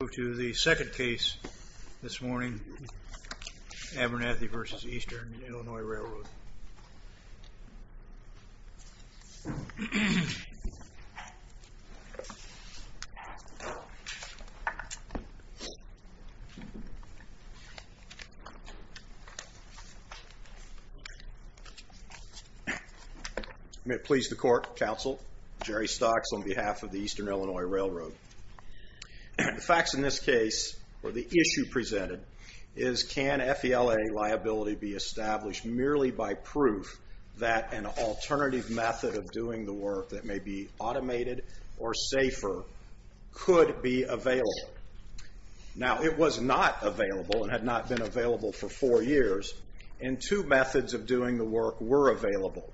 We'll move to the second case this morning, Abernathy v. Eastern Illinois Railroad. May it please the court, counsel, Jerry Stocks on behalf of the Eastern Illinois Railroad. The facts in this case, or the issue presented, is can FELA liability be established merely by proof that an alternative method of doing the work that may be automated or safer could be available? Now, it was not available and had not been available for four years, and two methods of doing the work were available.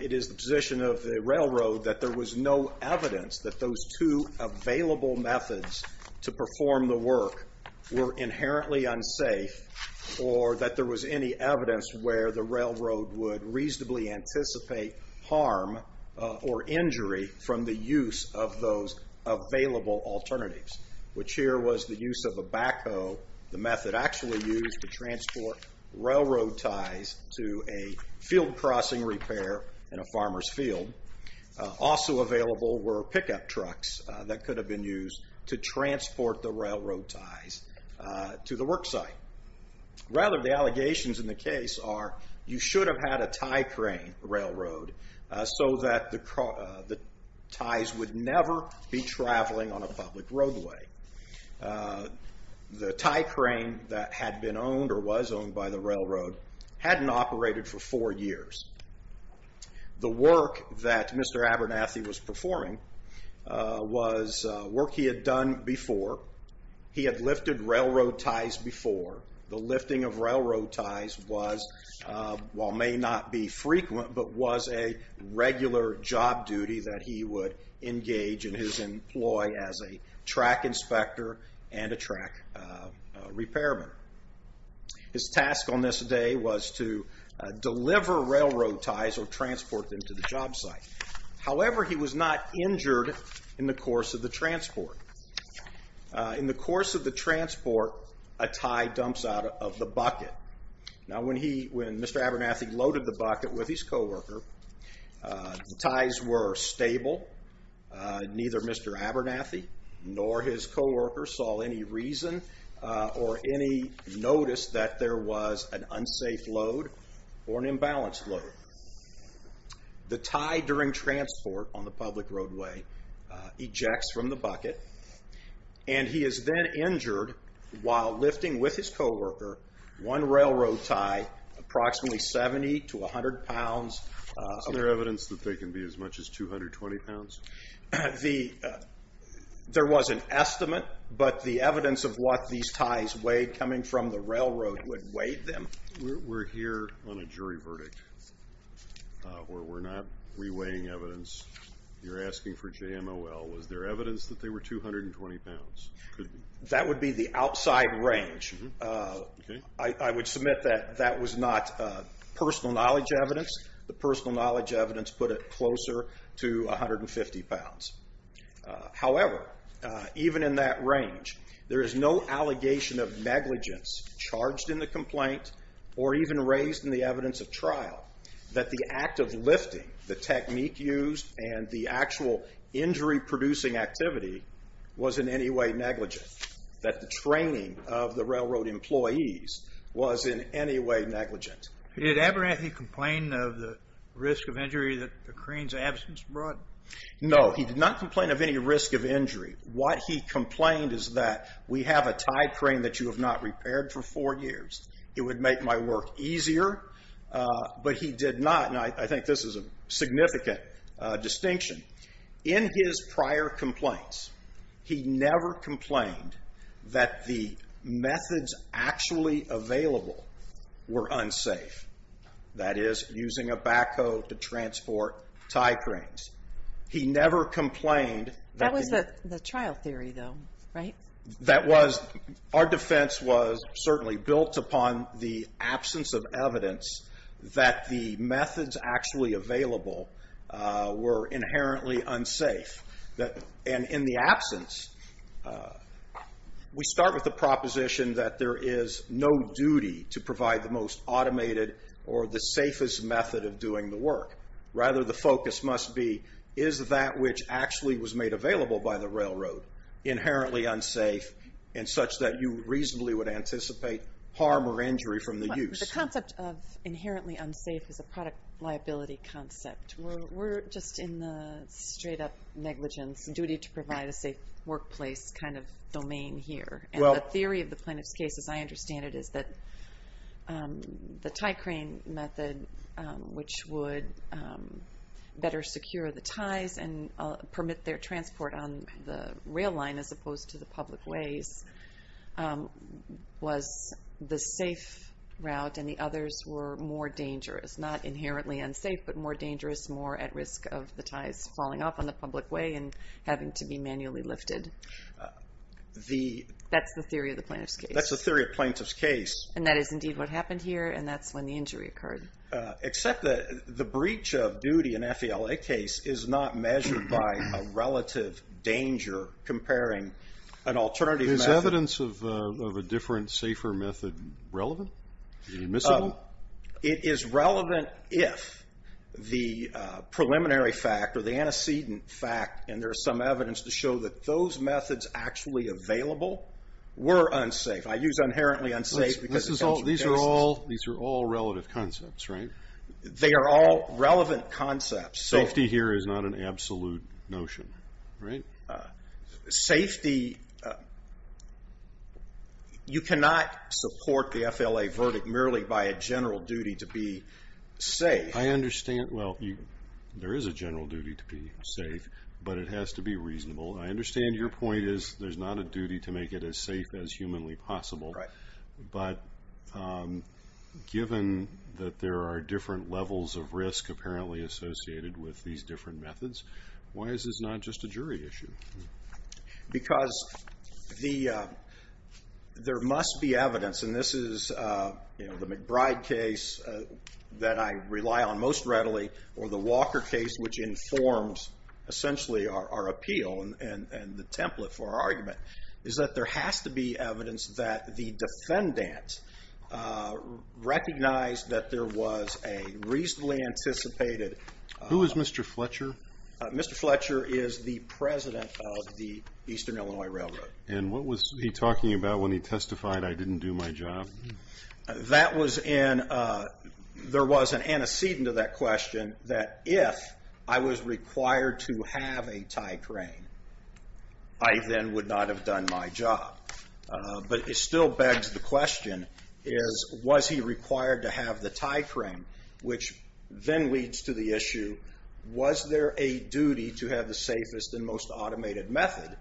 It is the position of the railroad that there was no evidence that those two available methods to perform the work were inherently unsafe, or that there was any evidence where the railroad would reasonably anticipate harm or injury from the use of those available alternatives, which here was the use of a backhoe, the method actually used to transport railroad ties to a field crossing repair in a farmer's field. Also available were pickup trucks that could have been used to transport the railroad ties to the work site. Rather, the allegations in the case are you should have had a tie crane railroad so that the ties would never be traveling on a public roadway. The tie crane that had been owned or was owned by the railroad hadn't operated for four years. The work that Mr. Abernathy was performing was work he had done before. He had lifted railroad ties before. The lifting of railroad ties was, while may not be frequent, but was a regular job duty that he would engage in his employ as a track inspector and a track repairman. His task on this day was to deliver railroad ties or transport them to the job site. However, he was not injured in the course of the transport. In the course of the transport, a tie dumps out of the bucket. When Mr. Abernathy loaded the bucket with his co-worker, the ties were stable. Neither Mr. Abernathy nor his co-worker saw any reason or any notice that there was an unsafe load or an imbalanced load. The tie during transport on the public roadway ejects from the bucket. And he is then injured while lifting with his co-worker one railroad tie, approximately 70 to 100 pounds. Is there evidence that they can be as much as 220 pounds? There was an estimate, but the evidence of what these ties weighed coming from the railroad would weigh them. We're here on a jury verdict. We're not re-weighing evidence. You're asking for JMOL. Was there evidence that they were 220 pounds? That would be the outside range. I would submit that that was not personal knowledge evidence. The personal knowledge evidence put it closer to 150 pounds. However, even in that range, there is no allegation of negligence charged in the complaint or even raised in the evidence of trial that the act of lifting, the technique used, and the actual injury-producing activity was in any way negligent, that the training of the railroad employees was in any way negligent. Did Abernathy complain of the risk of injury that the crane's absence brought? No, he did not complain of any risk of injury. What he complained is that we have a tie crane that you have not repaired for four years. It would make my work easier, but he did not. And I think this is a significant distinction. In his prior complaints, he never complained that the methods actually available were unsafe, that is, using a backhoe to transport tie cranes. He never complained. That was the trial theory, though, right? Our defense was certainly built upon the absence of evidence that the methods actually available were inherently unsafe. And in the absence, we start with the proposition that there is no duty to provide the most automated or the safest method of doing the work. Rather, the focus must be, is that which actually was made available by the railroad inherently unsafe and such that you reasonably would anticipate harm or injury from the use. The concept of inherently unsafe is a product liability concept. We're just in the straight-up negligence, duty to provide a safe workplace kind of domain here. And the theory of the plaintiff's case, as I understand it, is that the tie crane method, which would better secure the ties and permit their transport on the rail line as opposed to the public ways, was the safe route, and the others were more dangerous. Not inherently unsafe, but more dangerous, more at risk of the ties falling off on the public way and having to be manually lifted. That's the theory of the plaintiff's case. That's the theory of the plaintiff's case. And that is indeed what happened here, and that's when the injury occurred. Except that the breach of duty in an FALA case is not measured by a relative danger comparing an alternative method. Is evidence of a different, safer method relevant? Is it admissible? It is relevant if the preliminary fact or the antecedent fact, and there's some evidence to show that those methods actually available were unsafe. I use inherently unsafe because it comes from justice. These are all relative concepts, right? They are all relevant concepts. Safety here is not an absolute notion, right? Safety, you cannot support the FLA verdict merely by a general duty to be safe. I understand. Well, there is a general duty to be safe, but it has to be reasonable. I understand your point is there's not a duty to make it as safe as humanly possible, but given that there are different levels of risk apparently associated with these different methods, why is this not just a jury issue? Because there must be evidence, and this is the McBride case that I rely on most readily, or the Walker case, which informs essentially our appeal and the template for our argument, is that there has to be evidence that the defendant recognized that there was a reasonably anticipated. Who is Mr. Fletcher? Mr. Fletcher is the president of the Eastern Illinois Railroad. And what was he talking about when he testified, I didn't do my job? There was an antecedent to that question that if I was required to have a tie crane, I then would not have done my job. But it still begs the question, was he required to have the tie crane, which then leads to the issue, was there a duty to have the safest and most automated method,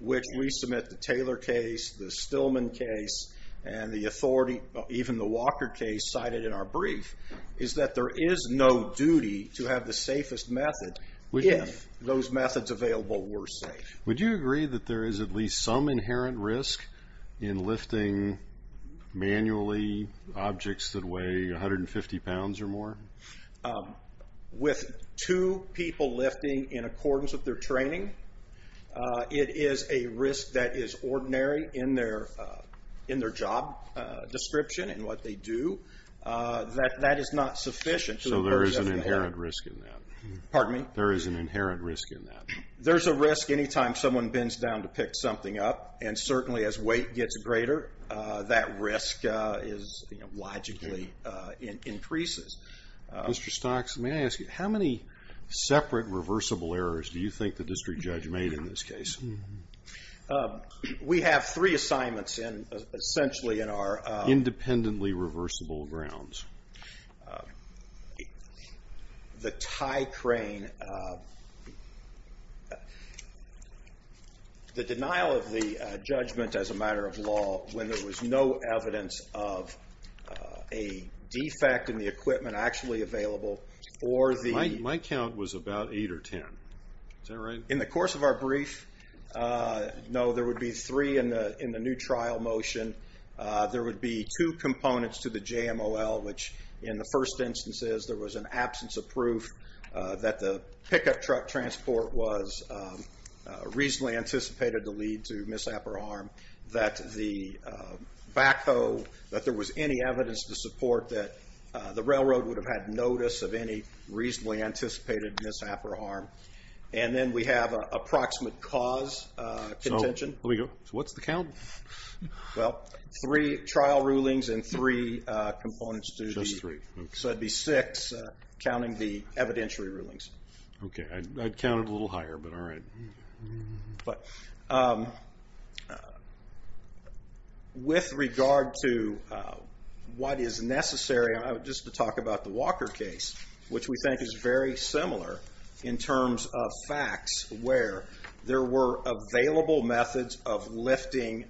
which we submit the Taylor case, the Stillman case, and the authority, even the Walker case cited in our brief, is that there is no duty to have the safest method if those methods available were safe. Would you agree that there is at least some inherent risk in lifting manually objects that weigh 150 pounds or more? With two people lifting in accordance with their training, it is a risk that is ordinary in their job description and what they do. That is not sufficient. So there is an inherent risk in that? Pardon me? There is an inherent risk in that? There's a risk any time someone bends down to pick something up, and certainly as weight gets greater, that risk logically increases. Mr. Stocks, may I ask you, how many separate reversible errors do you think the district judge made in this case? We have three assignments essentially in our- Independently reversible grounds. The tie crane, the denial of the judgment as a matter of law when there was no evidence of a defect in the equipment actually available, or the- My count was about eight or ten. Is that right? In the course of our brief, no, there would be three in the new trial motion. There would be two components to the JMOL, which in the first instance is there was an absence of proof that the pickup truck transport was reasonably anticipated to lead to misappropriate harm, that the backhoe, that there was any evidence to support that the railroad would have had notice of any reasonably anticipated misappropriate harm. And then we have an approximate cause contention. Let me go. So what's the count? Well, three trial rulings and three components to the- Just three. So it would be six counting the evidentiary rulings. Okay, I'd count it a little higher, but all right. But with regard to what is necessary, just to talk about the Walker case, which we think is very similar in terms of facts where there were available methods of lifting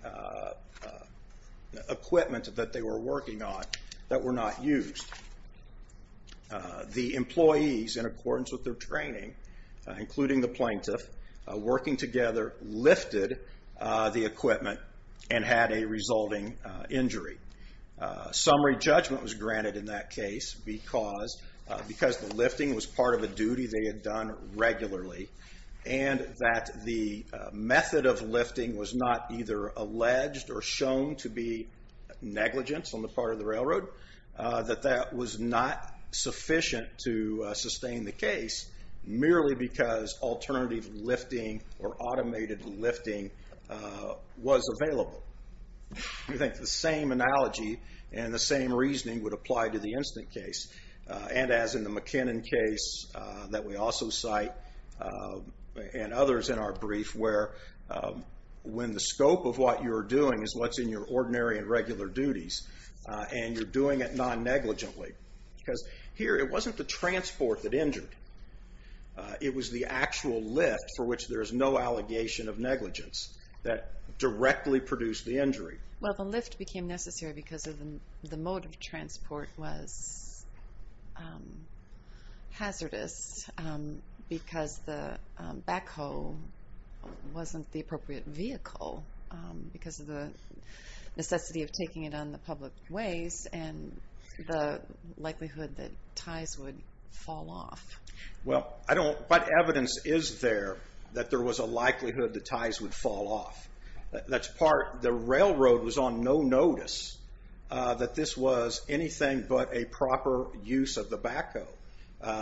equipment that they were working on that were not used. The employees, in accordance with their training, including the plaintiff, working together lifted the equipment and had a resulting injury. Summary judgment was granted in that case because the lifting was part of a duty they had done regularly and that the method of lifting was not either alleged or shown to be negligence on the part of the railroad, that that was not sufficient to sustain the case, merely because alternative lifting or automated lifting was available. We think the same analogy and the same reasoning would apply to the instant case. And as in the McKinnon case that we also cite, and others in our brief, where when the scope of what you're doing is what's in your ordinary and regular duties and you're doing it non-negligently, because here it wasn't the transport that injured. It was the actual lift for which there is no allegation of negligence that directly produced the injury. Well, the lift became necessary because the mode of transport was hazardous because the backhoe wasn't the appropriate vehicle because of the necessity of taking it on the public ways and the likelihood that ties would fall off. Well, I don't, what evidence is there that there was a likelihood that ties would fall off? That's part, the railroad was on no notice that this was anything but a proper use of the backhoe.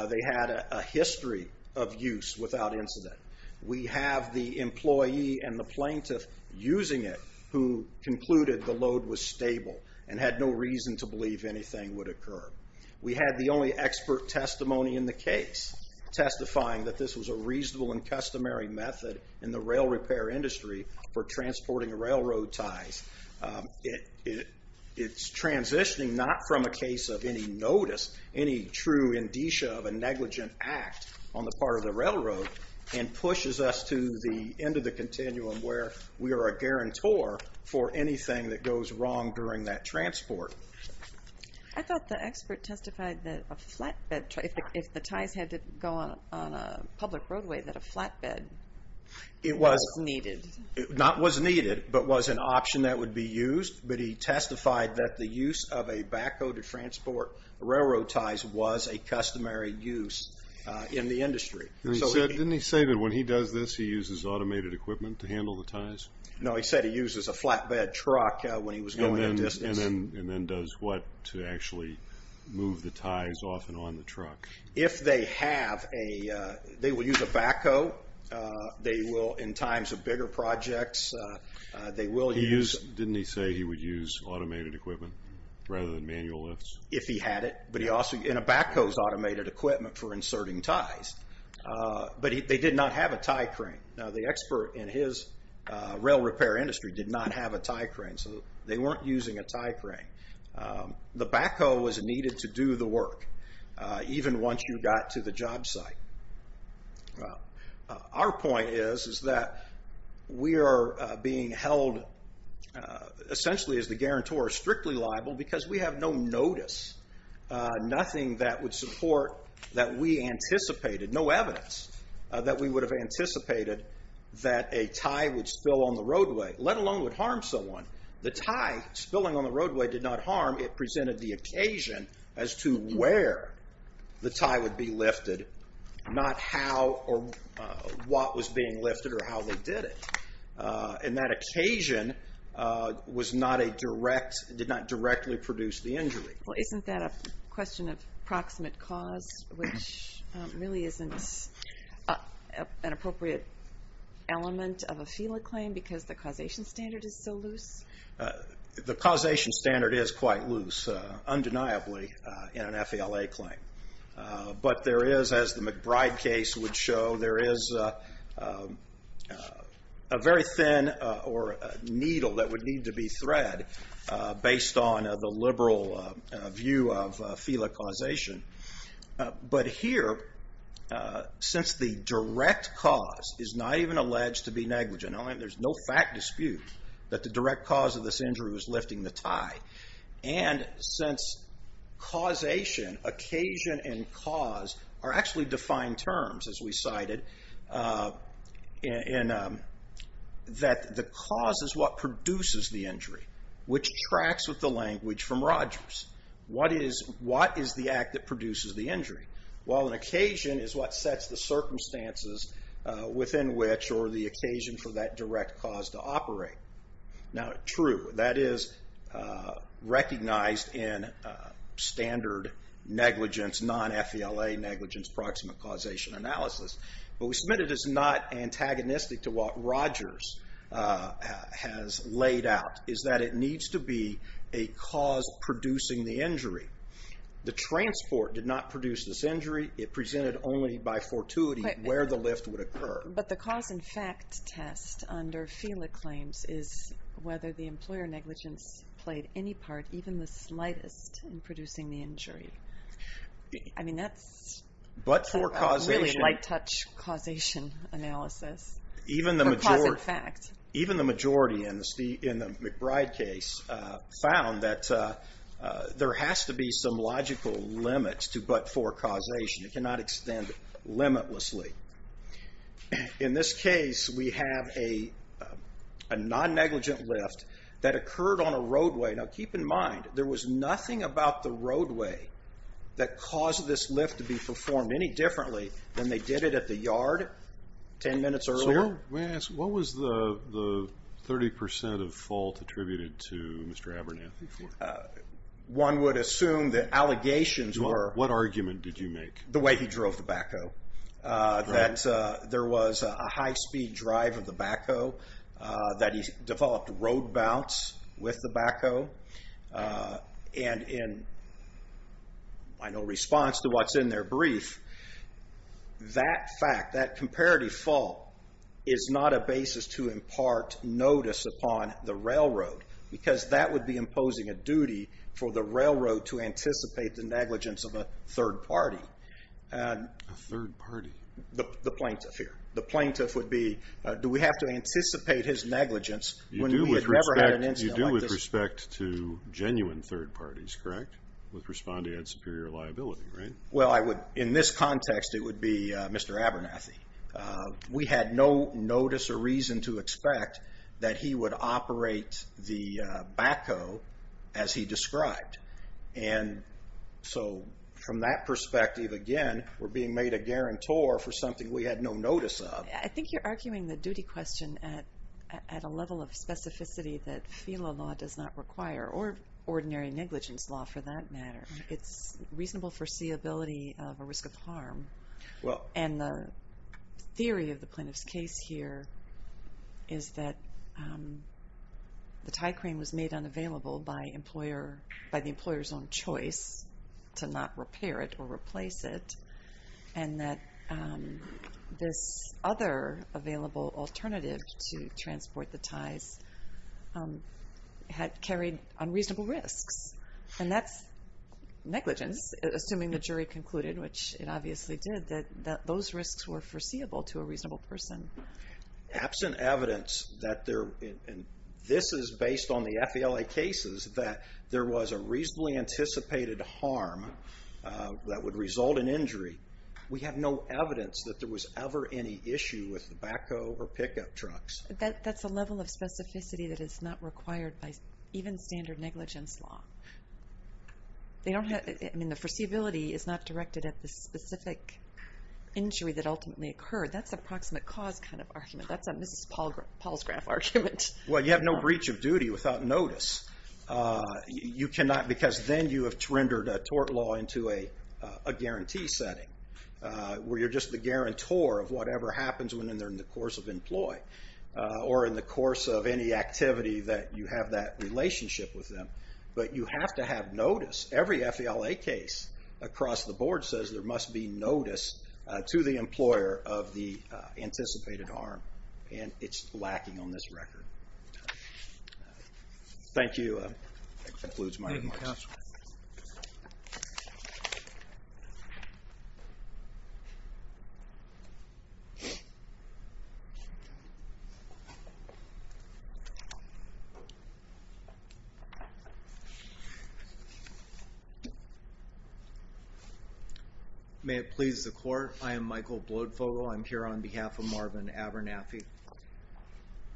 They had a history of use without incident. We have the employee and the plaintiff using it who concluded the load was stable and had no reason to believe anything would occur. We had the only expert testimony in the case testifying that this was a reasonable and customary method in the rail repair industry for transporting railroad ties. It's transitioning not from a case of any notice, any true indicia of a negligent act on the part of the railroad and pushes us to the end of the continuum where we are a guarantor for anything that goes wrong during that transport. I thought the expert testified that a flatbed, if the ties had to go on a public roadway, that a flatbed was needed. Not was needed, but was an option that would be used. But he testified that the use of a backhoe to transport railroad ties was a customary use in the industry. Didn't he say that when he does this, he uses automated equipment to handle the ties? No, he said he uses a flatbed truck when he was going a distance. And then does what to actually move the ties off and on the truck? If they have a, they will use a backhoe. They will in times of bigger projects, they will use. Didn't he say he would use automated equipment rather than manual lifts? If he had it, but he also, and a backhoe is automated equipment for inserting ties. But they did not have a tie crane. Now the expert in his rail repair industry did not have a tie crane, so they weren't using a tie crane. The backhoe was needed to do the work, even once you got to the job site. Our point is that we are being held, essentially as the guarantor, strictly liable because we have no notice. Nothing that would support that we anticipated. No evidence that we would have anticipated that a tie would spill on the roadway, let alone would harm someone. The tie spilling on the roadway did not harm. It presented the occasion as to where the tie would be lifted. Not how or what was being lifted or how they did it. And that occasion was not a direct, did not directly produce the injury. Well isn't that a question of proximate cause, which really isn't an appropriate element of a FELA claim because the causation standard is so loose? The causation standard is quite loose, undeniably, in an FELA claim. But there is, as the McBride case would show, there is a very thin or needle that would need to be thread based on the liberal view of FELA causation. But here, since the direct cause is not even alleged to be negligent, there's no fact dispute that the direct cause of this injury was lifting the tie. And since causation, occasion and cause, are actually defined terms, as we cited, that the cause is what produces the injury, which tracks with the language from Rogers. What is the act that produces the injury? While an occasion is what sets the circumstances within which or the occasion for that direct cause to operate. Now true, that is recognized in standard negligence, non-FELA negligence proximate causation analysis. But we submit it as not antagonistic to what Rogers has laid out, is that it needs to be a cause producing the injury. The transport did not produce this injury. It presented only by fortuity where the lift would occur. But the cause and fact test under FELA claims is whether the employer negligence played any part, even the slightest, in producing the injury. I mean, that's a really light touch causation analysis. Even the majority in the McBride case found that there has to be some logical limit to but-for causation. It cannot extend limitlessly. In this case, we have a non-negligent lift that occurred on a roadway. Now keep in mind, there was nothing about the roadway that caused this lift to be performed any differently than they did it at the yard 10 minutes earlier. Sir, may I ask, what was the 30% of fault attributed to Mr. Abernathy for? One would assume that allegations were. What argument did you make? The way he drove the backhoe, that there was a high-speed drive of the backhoe, that he developed road bounce with the backhoe. And in response to what's in their brief, that fact, that comparative fault, is not a basis to impart notice upon the railroad. Because that would be imposing a duty for the railroad to anticipate the negligence of a third party. A third party? The plaintiff here. The plaintiff would be, do we have to anticipate his negligence when we had never had an incident like this? You do with respect to genuine third parties, correct? With responding to superior liability, right? Well, in this context, it would be Mr. Abernathy. We had no notice or reason to expect that he would operate the backhoe as he described. And so from that perspective, again, we're being made a guarantor for something we had no notice of. I think you're arguing the duty question at a level of specificity that FELA law does not require, or ordinary negligence law for that matter. It's reasonable foreseeability of a risk of harm. And the theory of the plaintiff's case here is that the tie crane was made unavailable by the employer's own choice to not repair it or replace it, and that this other available alternative to transport the ties had carried unreasonable risks. And that's negligence, assuming the jury concluded, which it obviously did, that those risks were foreseeable to a reasonable person. Absent evidence that there, and this is based on the FELA cases, that there was a reasonably anticipated harm that would result in injury, we have no evidence that there was ever any issue with the backhoe or pickup trucks. That's a level of specificity that is not required by even standard negligence law. I mean, the foreseeability is not directed at the specific injury that ultimately occurred. That's a proximate cause kind of argument. That's a Mrs. Palsgraf argument. Well, you have no breach of duty without notice. You cannot, because then you have rendered a tort law into a guarantee setting, where you're just the guarantor of whatever happens when they're in the course of employ, or in the course of any activity that you have that relationship with them. But you have to have notice. Every FELA case across the board says there must be notice to the employer of the anticipated harm, and it's lacking on this record. Thank you. That concludes my remarks. Thank you, counsel. May it please the court. I am Michael Bloedfogle. I'm here on behalf of Marvin Abernathy.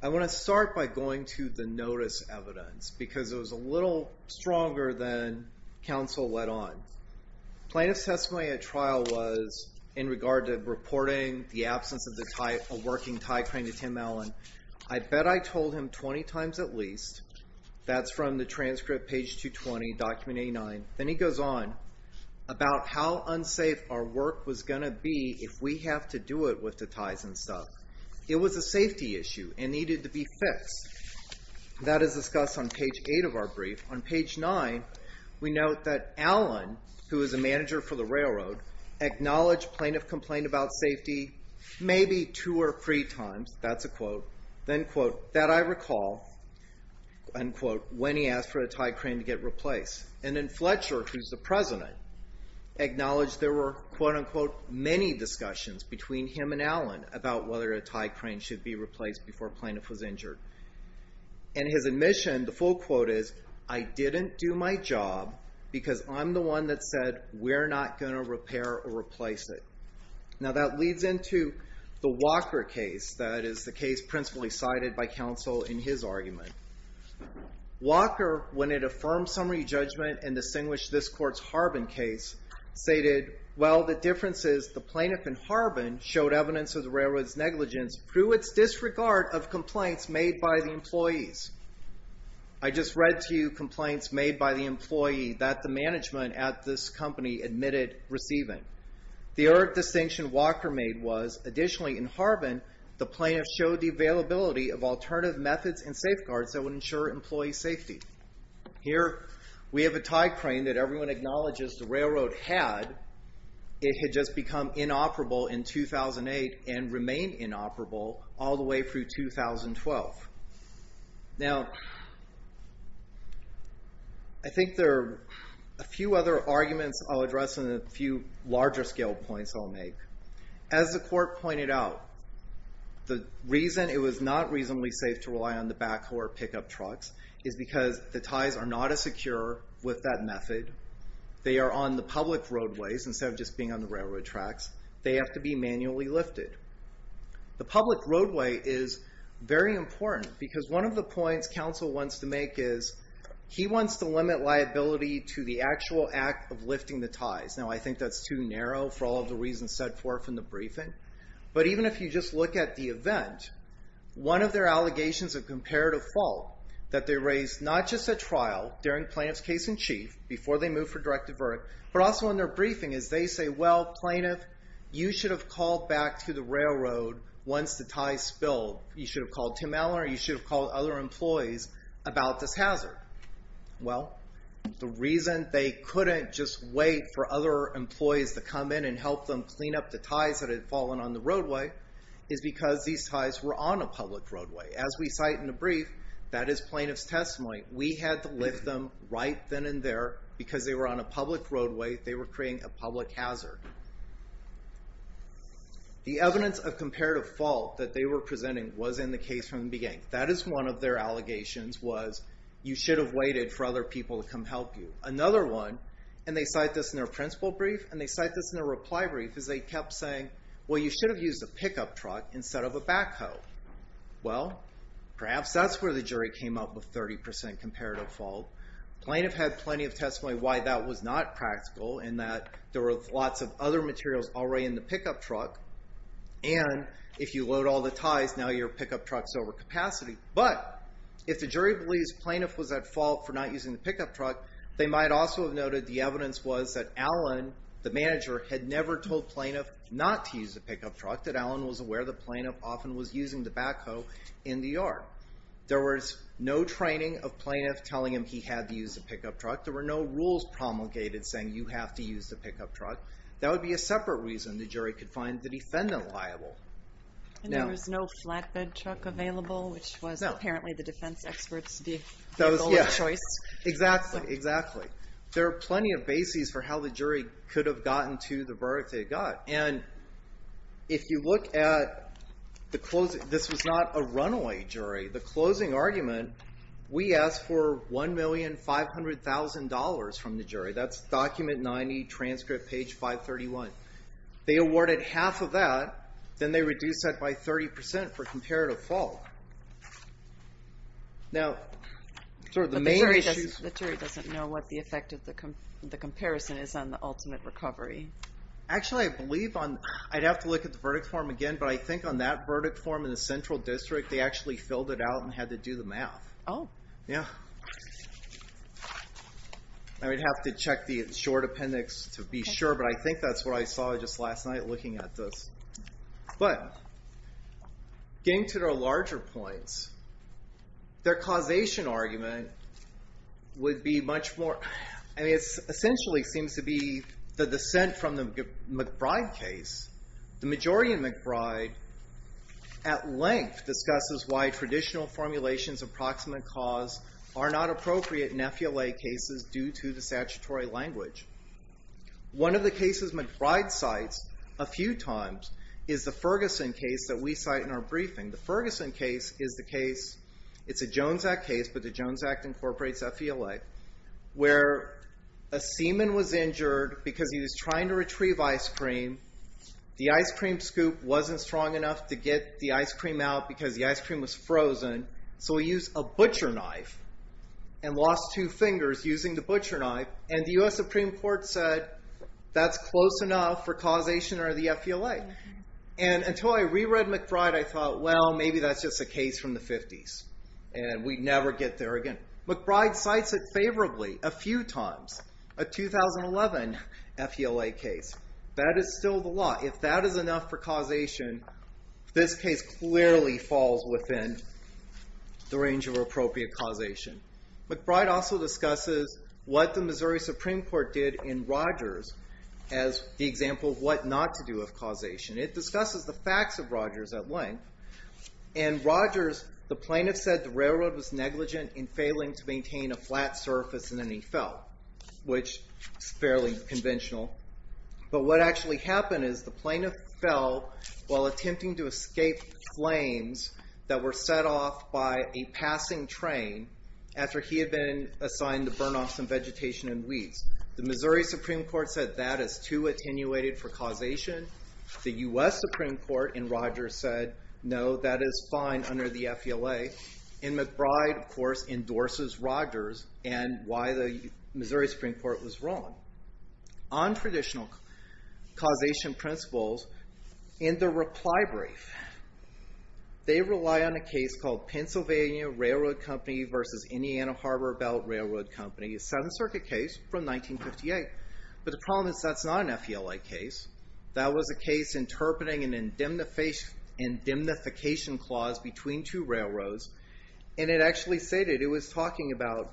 I want to start by going to the notice evidence, because it was a little stronger than counsel let on. Plaintiff's testimony at trial was in regard to reporting the absence of a working tie crane to Tim Allen. I bet I told him 20 times at least. That's from the transcript, page 220, document 89. Then he goes on about how unsafe our work was going to be if we have to do it with the ties and stuff. It was a safety issue and needed to be fixed. That is discussed on page 8 of our brief. On page 9, we note that Allen, who is a manager for the railroad, acknowledged plaintiff complained about safety maybe two or three times. That's a quote. Then, quote, that I recall, unquote, when he asked for a tie crane to get replaced. And then Fletcher, who's the president, acknowledged there were, quote, unquote, many discussions between him and Allen about whether a tie crane should be replaced before a plaintiff was injured. And his admission, the full quote is, I didn't do my job because I'm the one that said we're not going to repair or replace it. Now, that leads into the Walker case. That is the case principally cited by counsel in his argument. Walker, when it affirmed summary judgment and distinguished this court's Harbin case, stated, well, the differences, the plaintiff in Harbin showed evidence of the railroad's negligence through its disregard of complaints made by the employees. I just read to you complaints made by the employee that the management at this company admitted receiving. The other distinction Walker made was, additionally, in Harbin, the plaintiff showed the availability of alternative methods and safeguards that would ensure employee safety. Here, we have a tie crane that everyone acknowledges the railroad had. It had just become inoperable in 2008 and remained inoperable all the way through 2012. Now, I think there are a few other arguments I'll address and a few larger scale points I'll make. As the court pointed out, the reason it was not reasonably safe to rely on the backhoe or pickup trucks is because the ties are not as secure with that method. They are on the public roadways instead of just being on the railroad tracks. They have to be manually lifted. The public roadway is very important because one of the points counsel wants to make is he wants to limit liability to the actual act of lifting the ties. Now, I think that's too narrow for all of the reasons said forth in the briefing. But even if you just look at the event, one of their allegations of comparative fault that they raised not just at trial, during plaintiff's case in chief, before they moved for direct divert, but also in their briefing is they say, well, plaintiff, you should have called back to the railroad once the ties spilled. You should have called Tim Allen or you should have called other employees about this hazard. Well, the reason they couldn't just wait for other employees to come in and help them clean up the ties that had fallen on the roadway is because these ties were on a public roadway. As we cite in the brief, that is plaintiff's testimony. We had to lift them right then and there because they were on a public roadway. They were creating a public hazard. The evidence of comparative fault that they were presenting was in the case from the beginning. That is one of their allegations was you should have waited for other people to come help you. Another one, and they cite this in their principle brief and they cite this in their reply brief, is they kept saying, well, you should have used a pickup truck instead of a backhoe. Well, perhaps that's where the jury came up with 30% comparative fault. Plaintiff had plenty of testimony why that was not practical in that there were lots of other materials already in the pickup truck. And if you load all the ties, now your pickup truck's over capacity. But if the jury believes plaintiff was at fault for not using the pickup truck, they might also have noted the evidence was that Alan, the manager, had never told plaintiff not to use the pickup truck, that Alan was aware the plaintiff often was using the backhoe in the yard. There was no training of plaintiff telling him he had to use the pickup truck. There were no rules promulgated saying you have to use the pickup truck. That would be a separate reason the jury could find the defendant liable. And there was no flatbed truck available, which was apparently the defense experts' goal of choice. Exactly, exactly. There are plenty of bases for how the jury could have gotten to the verdict they got. And if you look at the closing, this was not a runaway jury. The closing argument, we asked for $1,500,000 from the jury. That's document 90, transcript page 531. They awarded half of that, then they reduced that by 30% for comparative fault. The jury doesn't know what the effect of the comparison is on the ultimate recovery. Actually, I believe I'd have to look at the verdict form again, but I think on that verdict form in the central district, Oh. Yeah. I would have to check the short appendix to be sure, but I think that's what I saw just last night looking at this. But getting to the larger points, their causation argument would be much more, I mean, it essentially seems to be the dissent from the McBride case. The majority in McBride, at length, discusses why traditional formulations of proximate cause are not appropriate in FELA cases due to the statutory language. One of the cases McBride cites a few times is the Ferguson case that we cite in our briefing. The Ferguson case is the case, it's a Jones Act case, but the Jones Act incorporates FELA, where a seaman was injured because he was trying to retrieve ice cream. The ice cream scoop wasn't strong enough to get the ice cream out because the ice cream was frozen, so he used a butcher knife and lost two fingers using the butcher knife, and the US Supreme Court said that's close enough for causation under the FELA. And until I reread McBride, I thought, well, maybe that's just a case from the 50s, and we'd never get there again. McBride cites it favorably a few times, a 2011 FELA case. That is still the law. If that is enough for causation, this case clearly falls within the range of appropriate causation. McBride also discusses what the Missouri Supreme Court did in Rogers as the example of what not to do with causation. It discusses the facts of Rogers at length. In Rogers, the plaintiff said the railroad was negligent in failing to maintain a flat surface in any FEL, which is fairly conventional. But what actually happened is the plaintiff fell while attempting to escape flames that were set off by a passing train after he had been assigned to burn off some vegetation and weeds. The Missouri Supreme Court said that is too attenuated for causation. The US Supreme Court in Rogers said, no, that is fine under the FELA. And McBride, of course, endorses Rogers and why the Missouri Supreme Court was wrong. On traditional causation principles in the reply brief, they rely on a case called Pennsylvania Railroad Company versus Indiana Harbor Belt Railroad Company, a 7th Circuit case from 1958. But the problem is that is not an FELA case. That was a case interpreting an indemnification clause between two railroads. And it actually stated it was talking about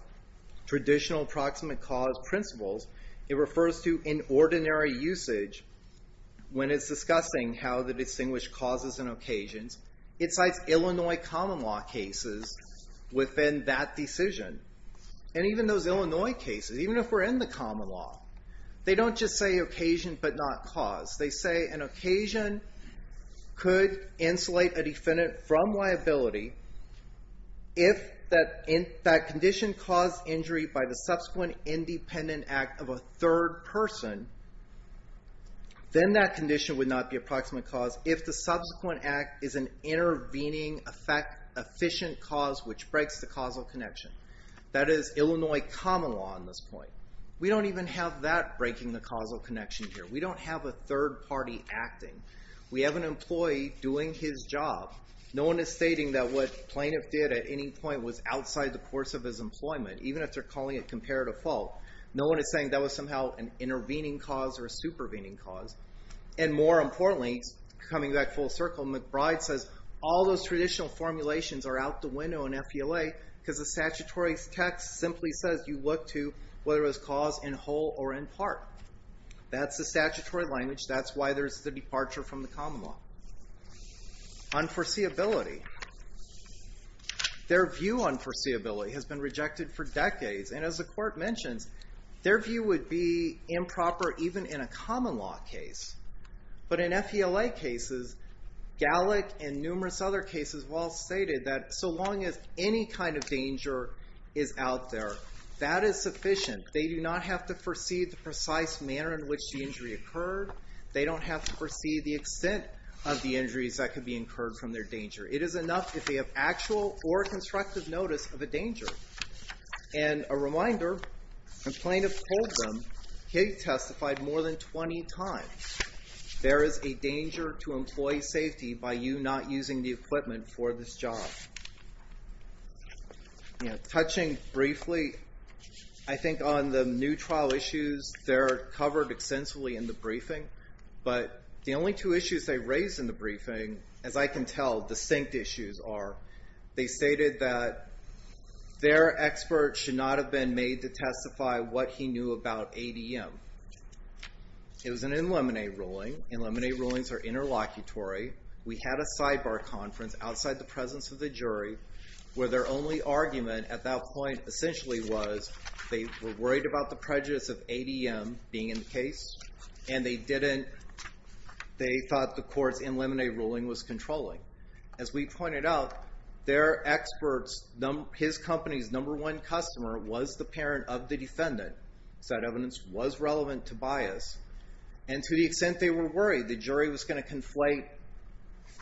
traditional approximate cause principles. It refers to inordinary usage when it's discussing how the distinguished causes and occasions. It cites Illinois common law cases within that decision. And even those Illinois cases, even if we're in the common law, they don't just say occasion but not cause. They say an occasion could insulate a defendant from liability if that condition caused injury by the subsequent independent act of a third person, then that condition would not be approximate cause if the subsequent act is an intervening, efficient cause which breaks the causal connection. That is Illinois common law on this point. We don't even have that breaking the causal connection here. We don't have a third party acting. We have an employee doing his job. No one is stating that what the plaintiff did at any point was outside the course of his employment, even if they're calling it comparative fault. No one is saying that was somehow an intervening cause or a supervening cause. And more importantly, coming back full circle, McBride says all those traditional formulations are out the window in FELA because the statutory text simply says you look to whether it was cause in whole or in part. That's the statutory language. That's why there's the departure from the common law. Unforeseeability. Their view on foreseeability has been rejected for decades. And as the court mentions, their view would be improper even in a common law case. But in FELA cases, Gallick and numerous other cases well stated that so long as any kind of danger is out there, that is sufficient. They do not have to foresee the precise manner in which the injury occurred. They don't have to foresee the extent of the injuries that could be incurred from their danger. It is enough if they have actual or constructive notice of a danger. And a reminder, the plaintiff told them, he testified more than 20 times, there is a danger to employee safety by you not using the equipment for this job. Touching briefly, I think on the new trial issues, they're covered extensively in the briefing. But the only two issues they raised in the briefing, as I can tell, distinct issues are, they stated that their expert should not have been made to testify what he knew about ADM. It was an in limine ruling. In limine rulings are interlocutory. We had a sidebar conference outside the presence of the jury where their only argument at that point essentially was they were worried about the prejudice of ADM being in the case and they thought the court's in limine ruling was controlling. As we pointed out, their experts, his company's number one customer was the parent of the defendant. So that evidence was relevant to bias. And to the extent they were worried the jury was going to conflate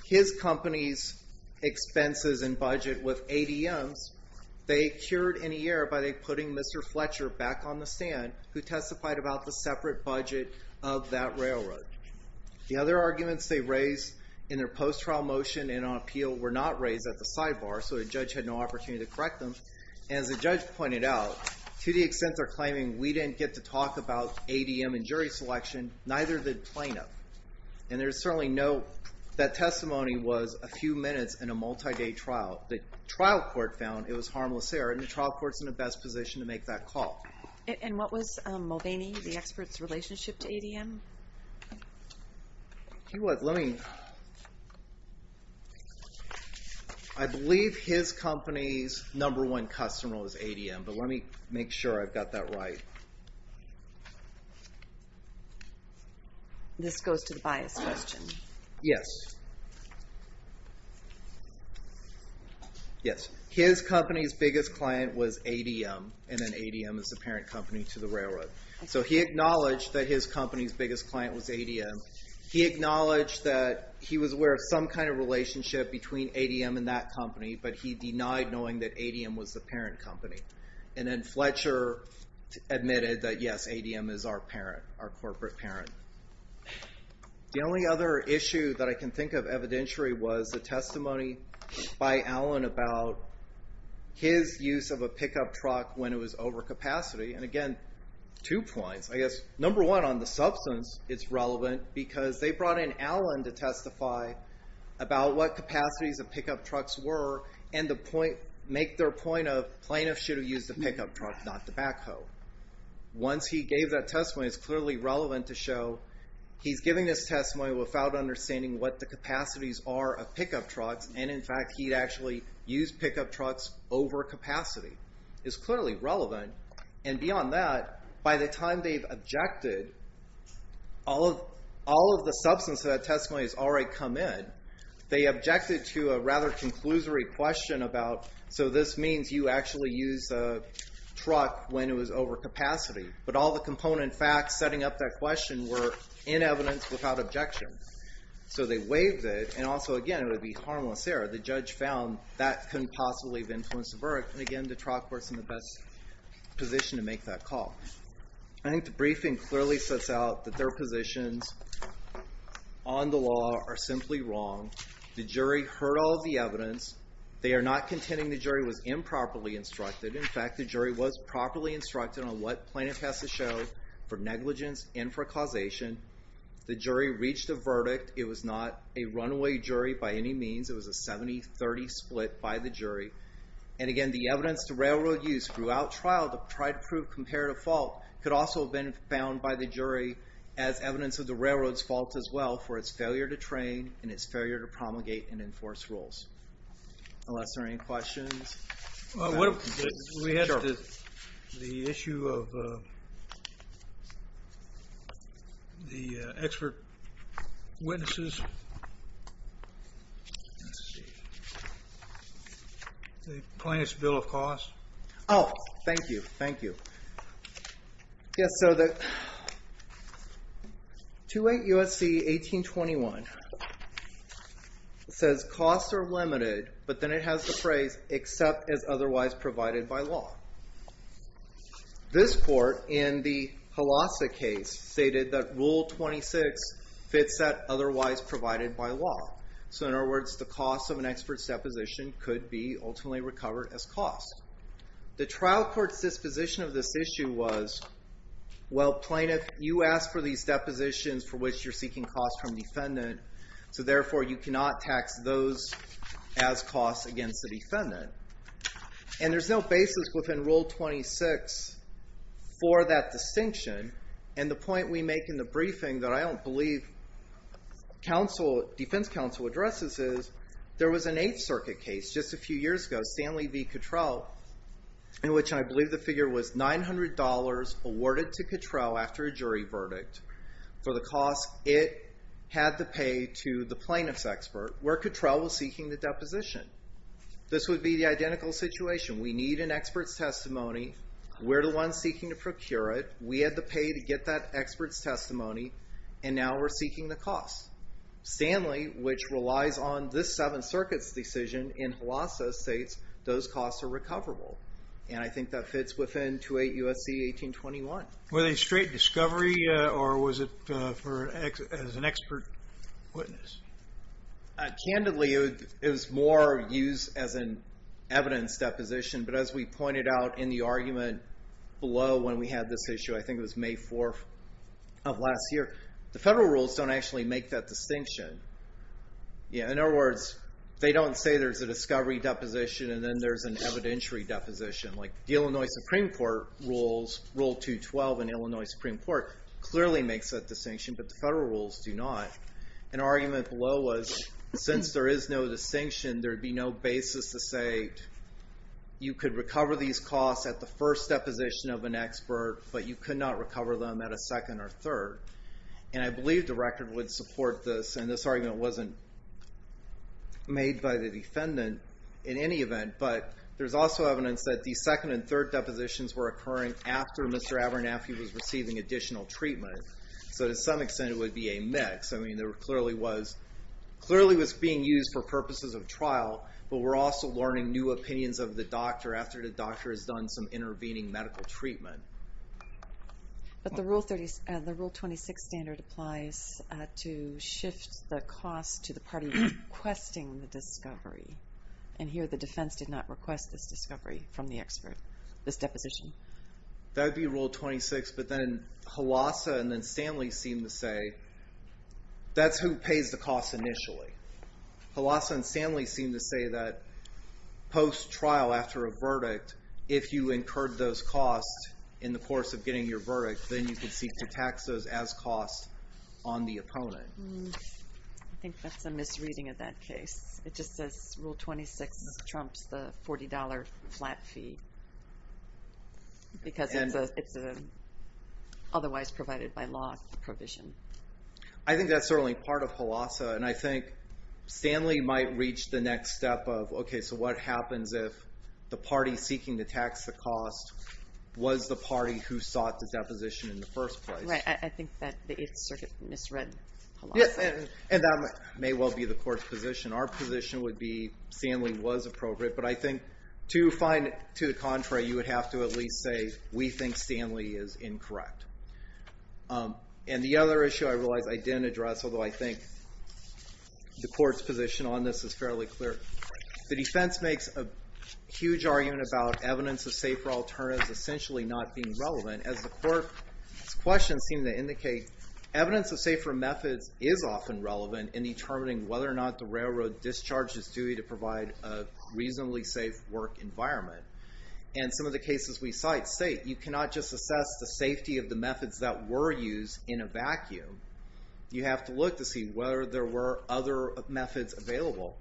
his company's expenses and budget with ADM's, they cured in a year by putting Mr. Fletcher back on the stand who testified about the separate budget of that railroad. The other arguments they raised in their post-trial motion and on appeal were not raised at the sidebar, so the judge had no opportunity to correct them. As the judge pointed out, to the extent they're claiming we didn't get to talk about ADM and jury selection, neither did plaintiff. And there's certainly no, that testimony was a few minutes in a multi-day trial. The trial court found it was harmless error, and the trial court's in a best position to make that call. And what was Mulvaney, the expert's relationship to ADM? He was, let me... I believe his company's number one customer was ADM, but let me make sure I've got that right. This goes to the bias question. Yes. His company's biggest client was ADM, and then ADM is the parent company to the railroad. So he acknowledged that his company's biggest client was ADM. He acknowledged that he was aware of some kind of relationship between ADM and that company, but he denied knowing that ADM was the parent company. And then Fletcher admitted that, yes, ADM is our parent, our corporate parent. The only other issue that I can think of evidentiary was the testimony by Allen about his use of a pickup truck when it was over capacity. And again, two points. I guess, number one, on the substance, it's relevant, because they brought in Allen to testify about what capacities the pickup trucks were, and make their point of plaintiff should have used the pickup truck, not the backhoe. Once he gave that testimony, it's clearly relevant to show he's giving this testimony without understanding what the capacities are of pickup trucks, and, in fact, he'd actually used pickup trucks over capacity. It's clearly relevant. And beyond that, by the time they've objected, all of the substance of that testimony has already come in. They objected to a rather conclusory question about, so this means you actually used a truck when it was over capacity, but all the component facts setting up that question were in evidence without objection. So they waived it, and also, again, it would be harmless error. The judge found that couldn't possibly have influenced the verdict, and, again, the truck works in the best position to make that call. I think the briefing clearly sets out that their positions on the law are simply wrong. The jury heard all of the evidence. They are not contending the jury was improperly instructed. In fact, the jury was properly instructed on what plaintiff has to show for negligence and for causation. The jury reached a verdict. It was not a runaway jury by any means. It was a 70-30 split by the jury. And, again, the evidence the railroad used throughout trial to try to prove comparative fault could also have been found by the jury as evidence of the railroad's fault as well for its failure to train and its failure to promulgate and enforce rules. Unless there are any questions. We have the issue of the expert witnesses. The plaintiff's bill of cause. Oh, thank you, thank you. Yes, so the 2.8 U.S.C. 1821 says costs are limited, but then it has the phrase, except as otherwise provided by law. This court, in the Holasa case, stated that Rule 26 fits that otherwise provided by law. So, in other words, the cost of an expert's deposition could be ultimately recovered as cost. The trial court's disposition of this issue was, well, plaintiff, you asked for these depositions for which you're seeking cost from defendant, so, therefore, you cannot tax those as cost against the defendant. And there's no basis within Rule 26 for that distinction. And the point we make in the briefing that I don't believe defense counsel addresses is there was an Eighth Circuit case just a few years ago, called Stanley v. Cattrell, in which I believe the figure was $900 awarded to Cattrell after a jury verdict for the cost it had to pay to the plaintiff's expert, where Cattrell was seeking the deposition. This would be the identical situation. We need an expert's testimony. We're the ones seeking to procure it. We had to pay to get that expert's testimony, and now we're seeking the cost. Stanley, which relies on this Seventh Circuit's decision in Holasa, states those costs are recoverable. And I think that fits within 2.8 U.S.C. 1821. Was it a straight discovery, or was it as an expert witness? Candidly, it was more used as an evidence deposition, but as we pointed out in the argument below when we had this issue, I think it was May 4th of last year, the federal rules don't actually make that distinction. In other words, they don't say there's a discovery deposition and then there's an evidentiary deposition. The Illinois Supreme Court rules, Rule 212 in Illinois Supreme Court, clearly makes that distinction, but the federal rules do not. An argument below was since there is no distinction, there would be no basis to say you could recover these costs at the first deposition of an expert, but you could not recover them at a second or third. And I believe the record would support this, and this argument wasn't made by the defendant in any event, but there's also evidence that the second and third depositions were occurring after Mr. Abernathy was receiving additional treatment. So to some extent, it would be a mix. I mean, it clearly was being used for purposes of trial, but we're also learning new opinions of the doctor after the doctor has done some intervening medical treatment. But the Rule 26 standard applies to shift the cost to the party requesting the discovery, and here the defense did not request this discovery from the expert, this deposition. That would be Rule 26, but then Halassa and then Stanley seem to say that's who pays the cost initially. Halassa and Stanley seem to say that post-trial, after a verdict, if you incurred those costs in the course of getting your verdict, then you can seek to tax those as costs on the opponent. I think that's a misreading of that case. It just says Rule 26 trumps the $40 flat fee, because it's an otherwise provided by law provision. I think that's certainly part of Halassa, and I think Stanley might reach the next step of, okay, so what happens if the party seeking to tax the cost was the party who sought the deposition in the first place? Right, I think that it's sort of misread Halassa. Yes, and that may well be the court's position. Our position would be Stanley was appropriate, but I think to find it to the contrary, you would have to at least say we think Stanley is incorrect. And the other issue I realize I didn't address, although I think the court's position on this is fairly clear, the defense makes a huge argument about evidence of safer alternatives essentially not being relevant. As the court's questions seem to indicate, evidence of safer methods is often relevant in determining whether or not the railroad discharge is due to provide a reasonably safe work environment. And some of the cases we cite state you cannot just assess the safety of the methods that were used in a vacuum. You have to look to see whether there were other methods available.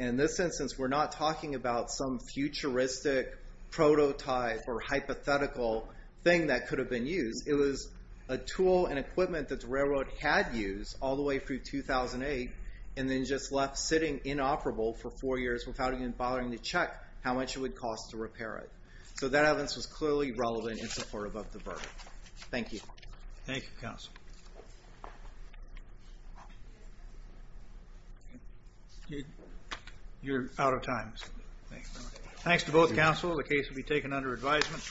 And in this instance, we're not talking about some futuristic prototype or hypothetical thing that could have been used. It was a tool and equipment that the railroad had used all the way through 2008, and then just left sitting inoperable for four years without even bothering to check how much it would cost to repair it. So that evidence was clearly relevant in support of the verdict. Thank you. Thank you, counsel. You're out of time. Thanks to both counsel. The case will be taken under advisement.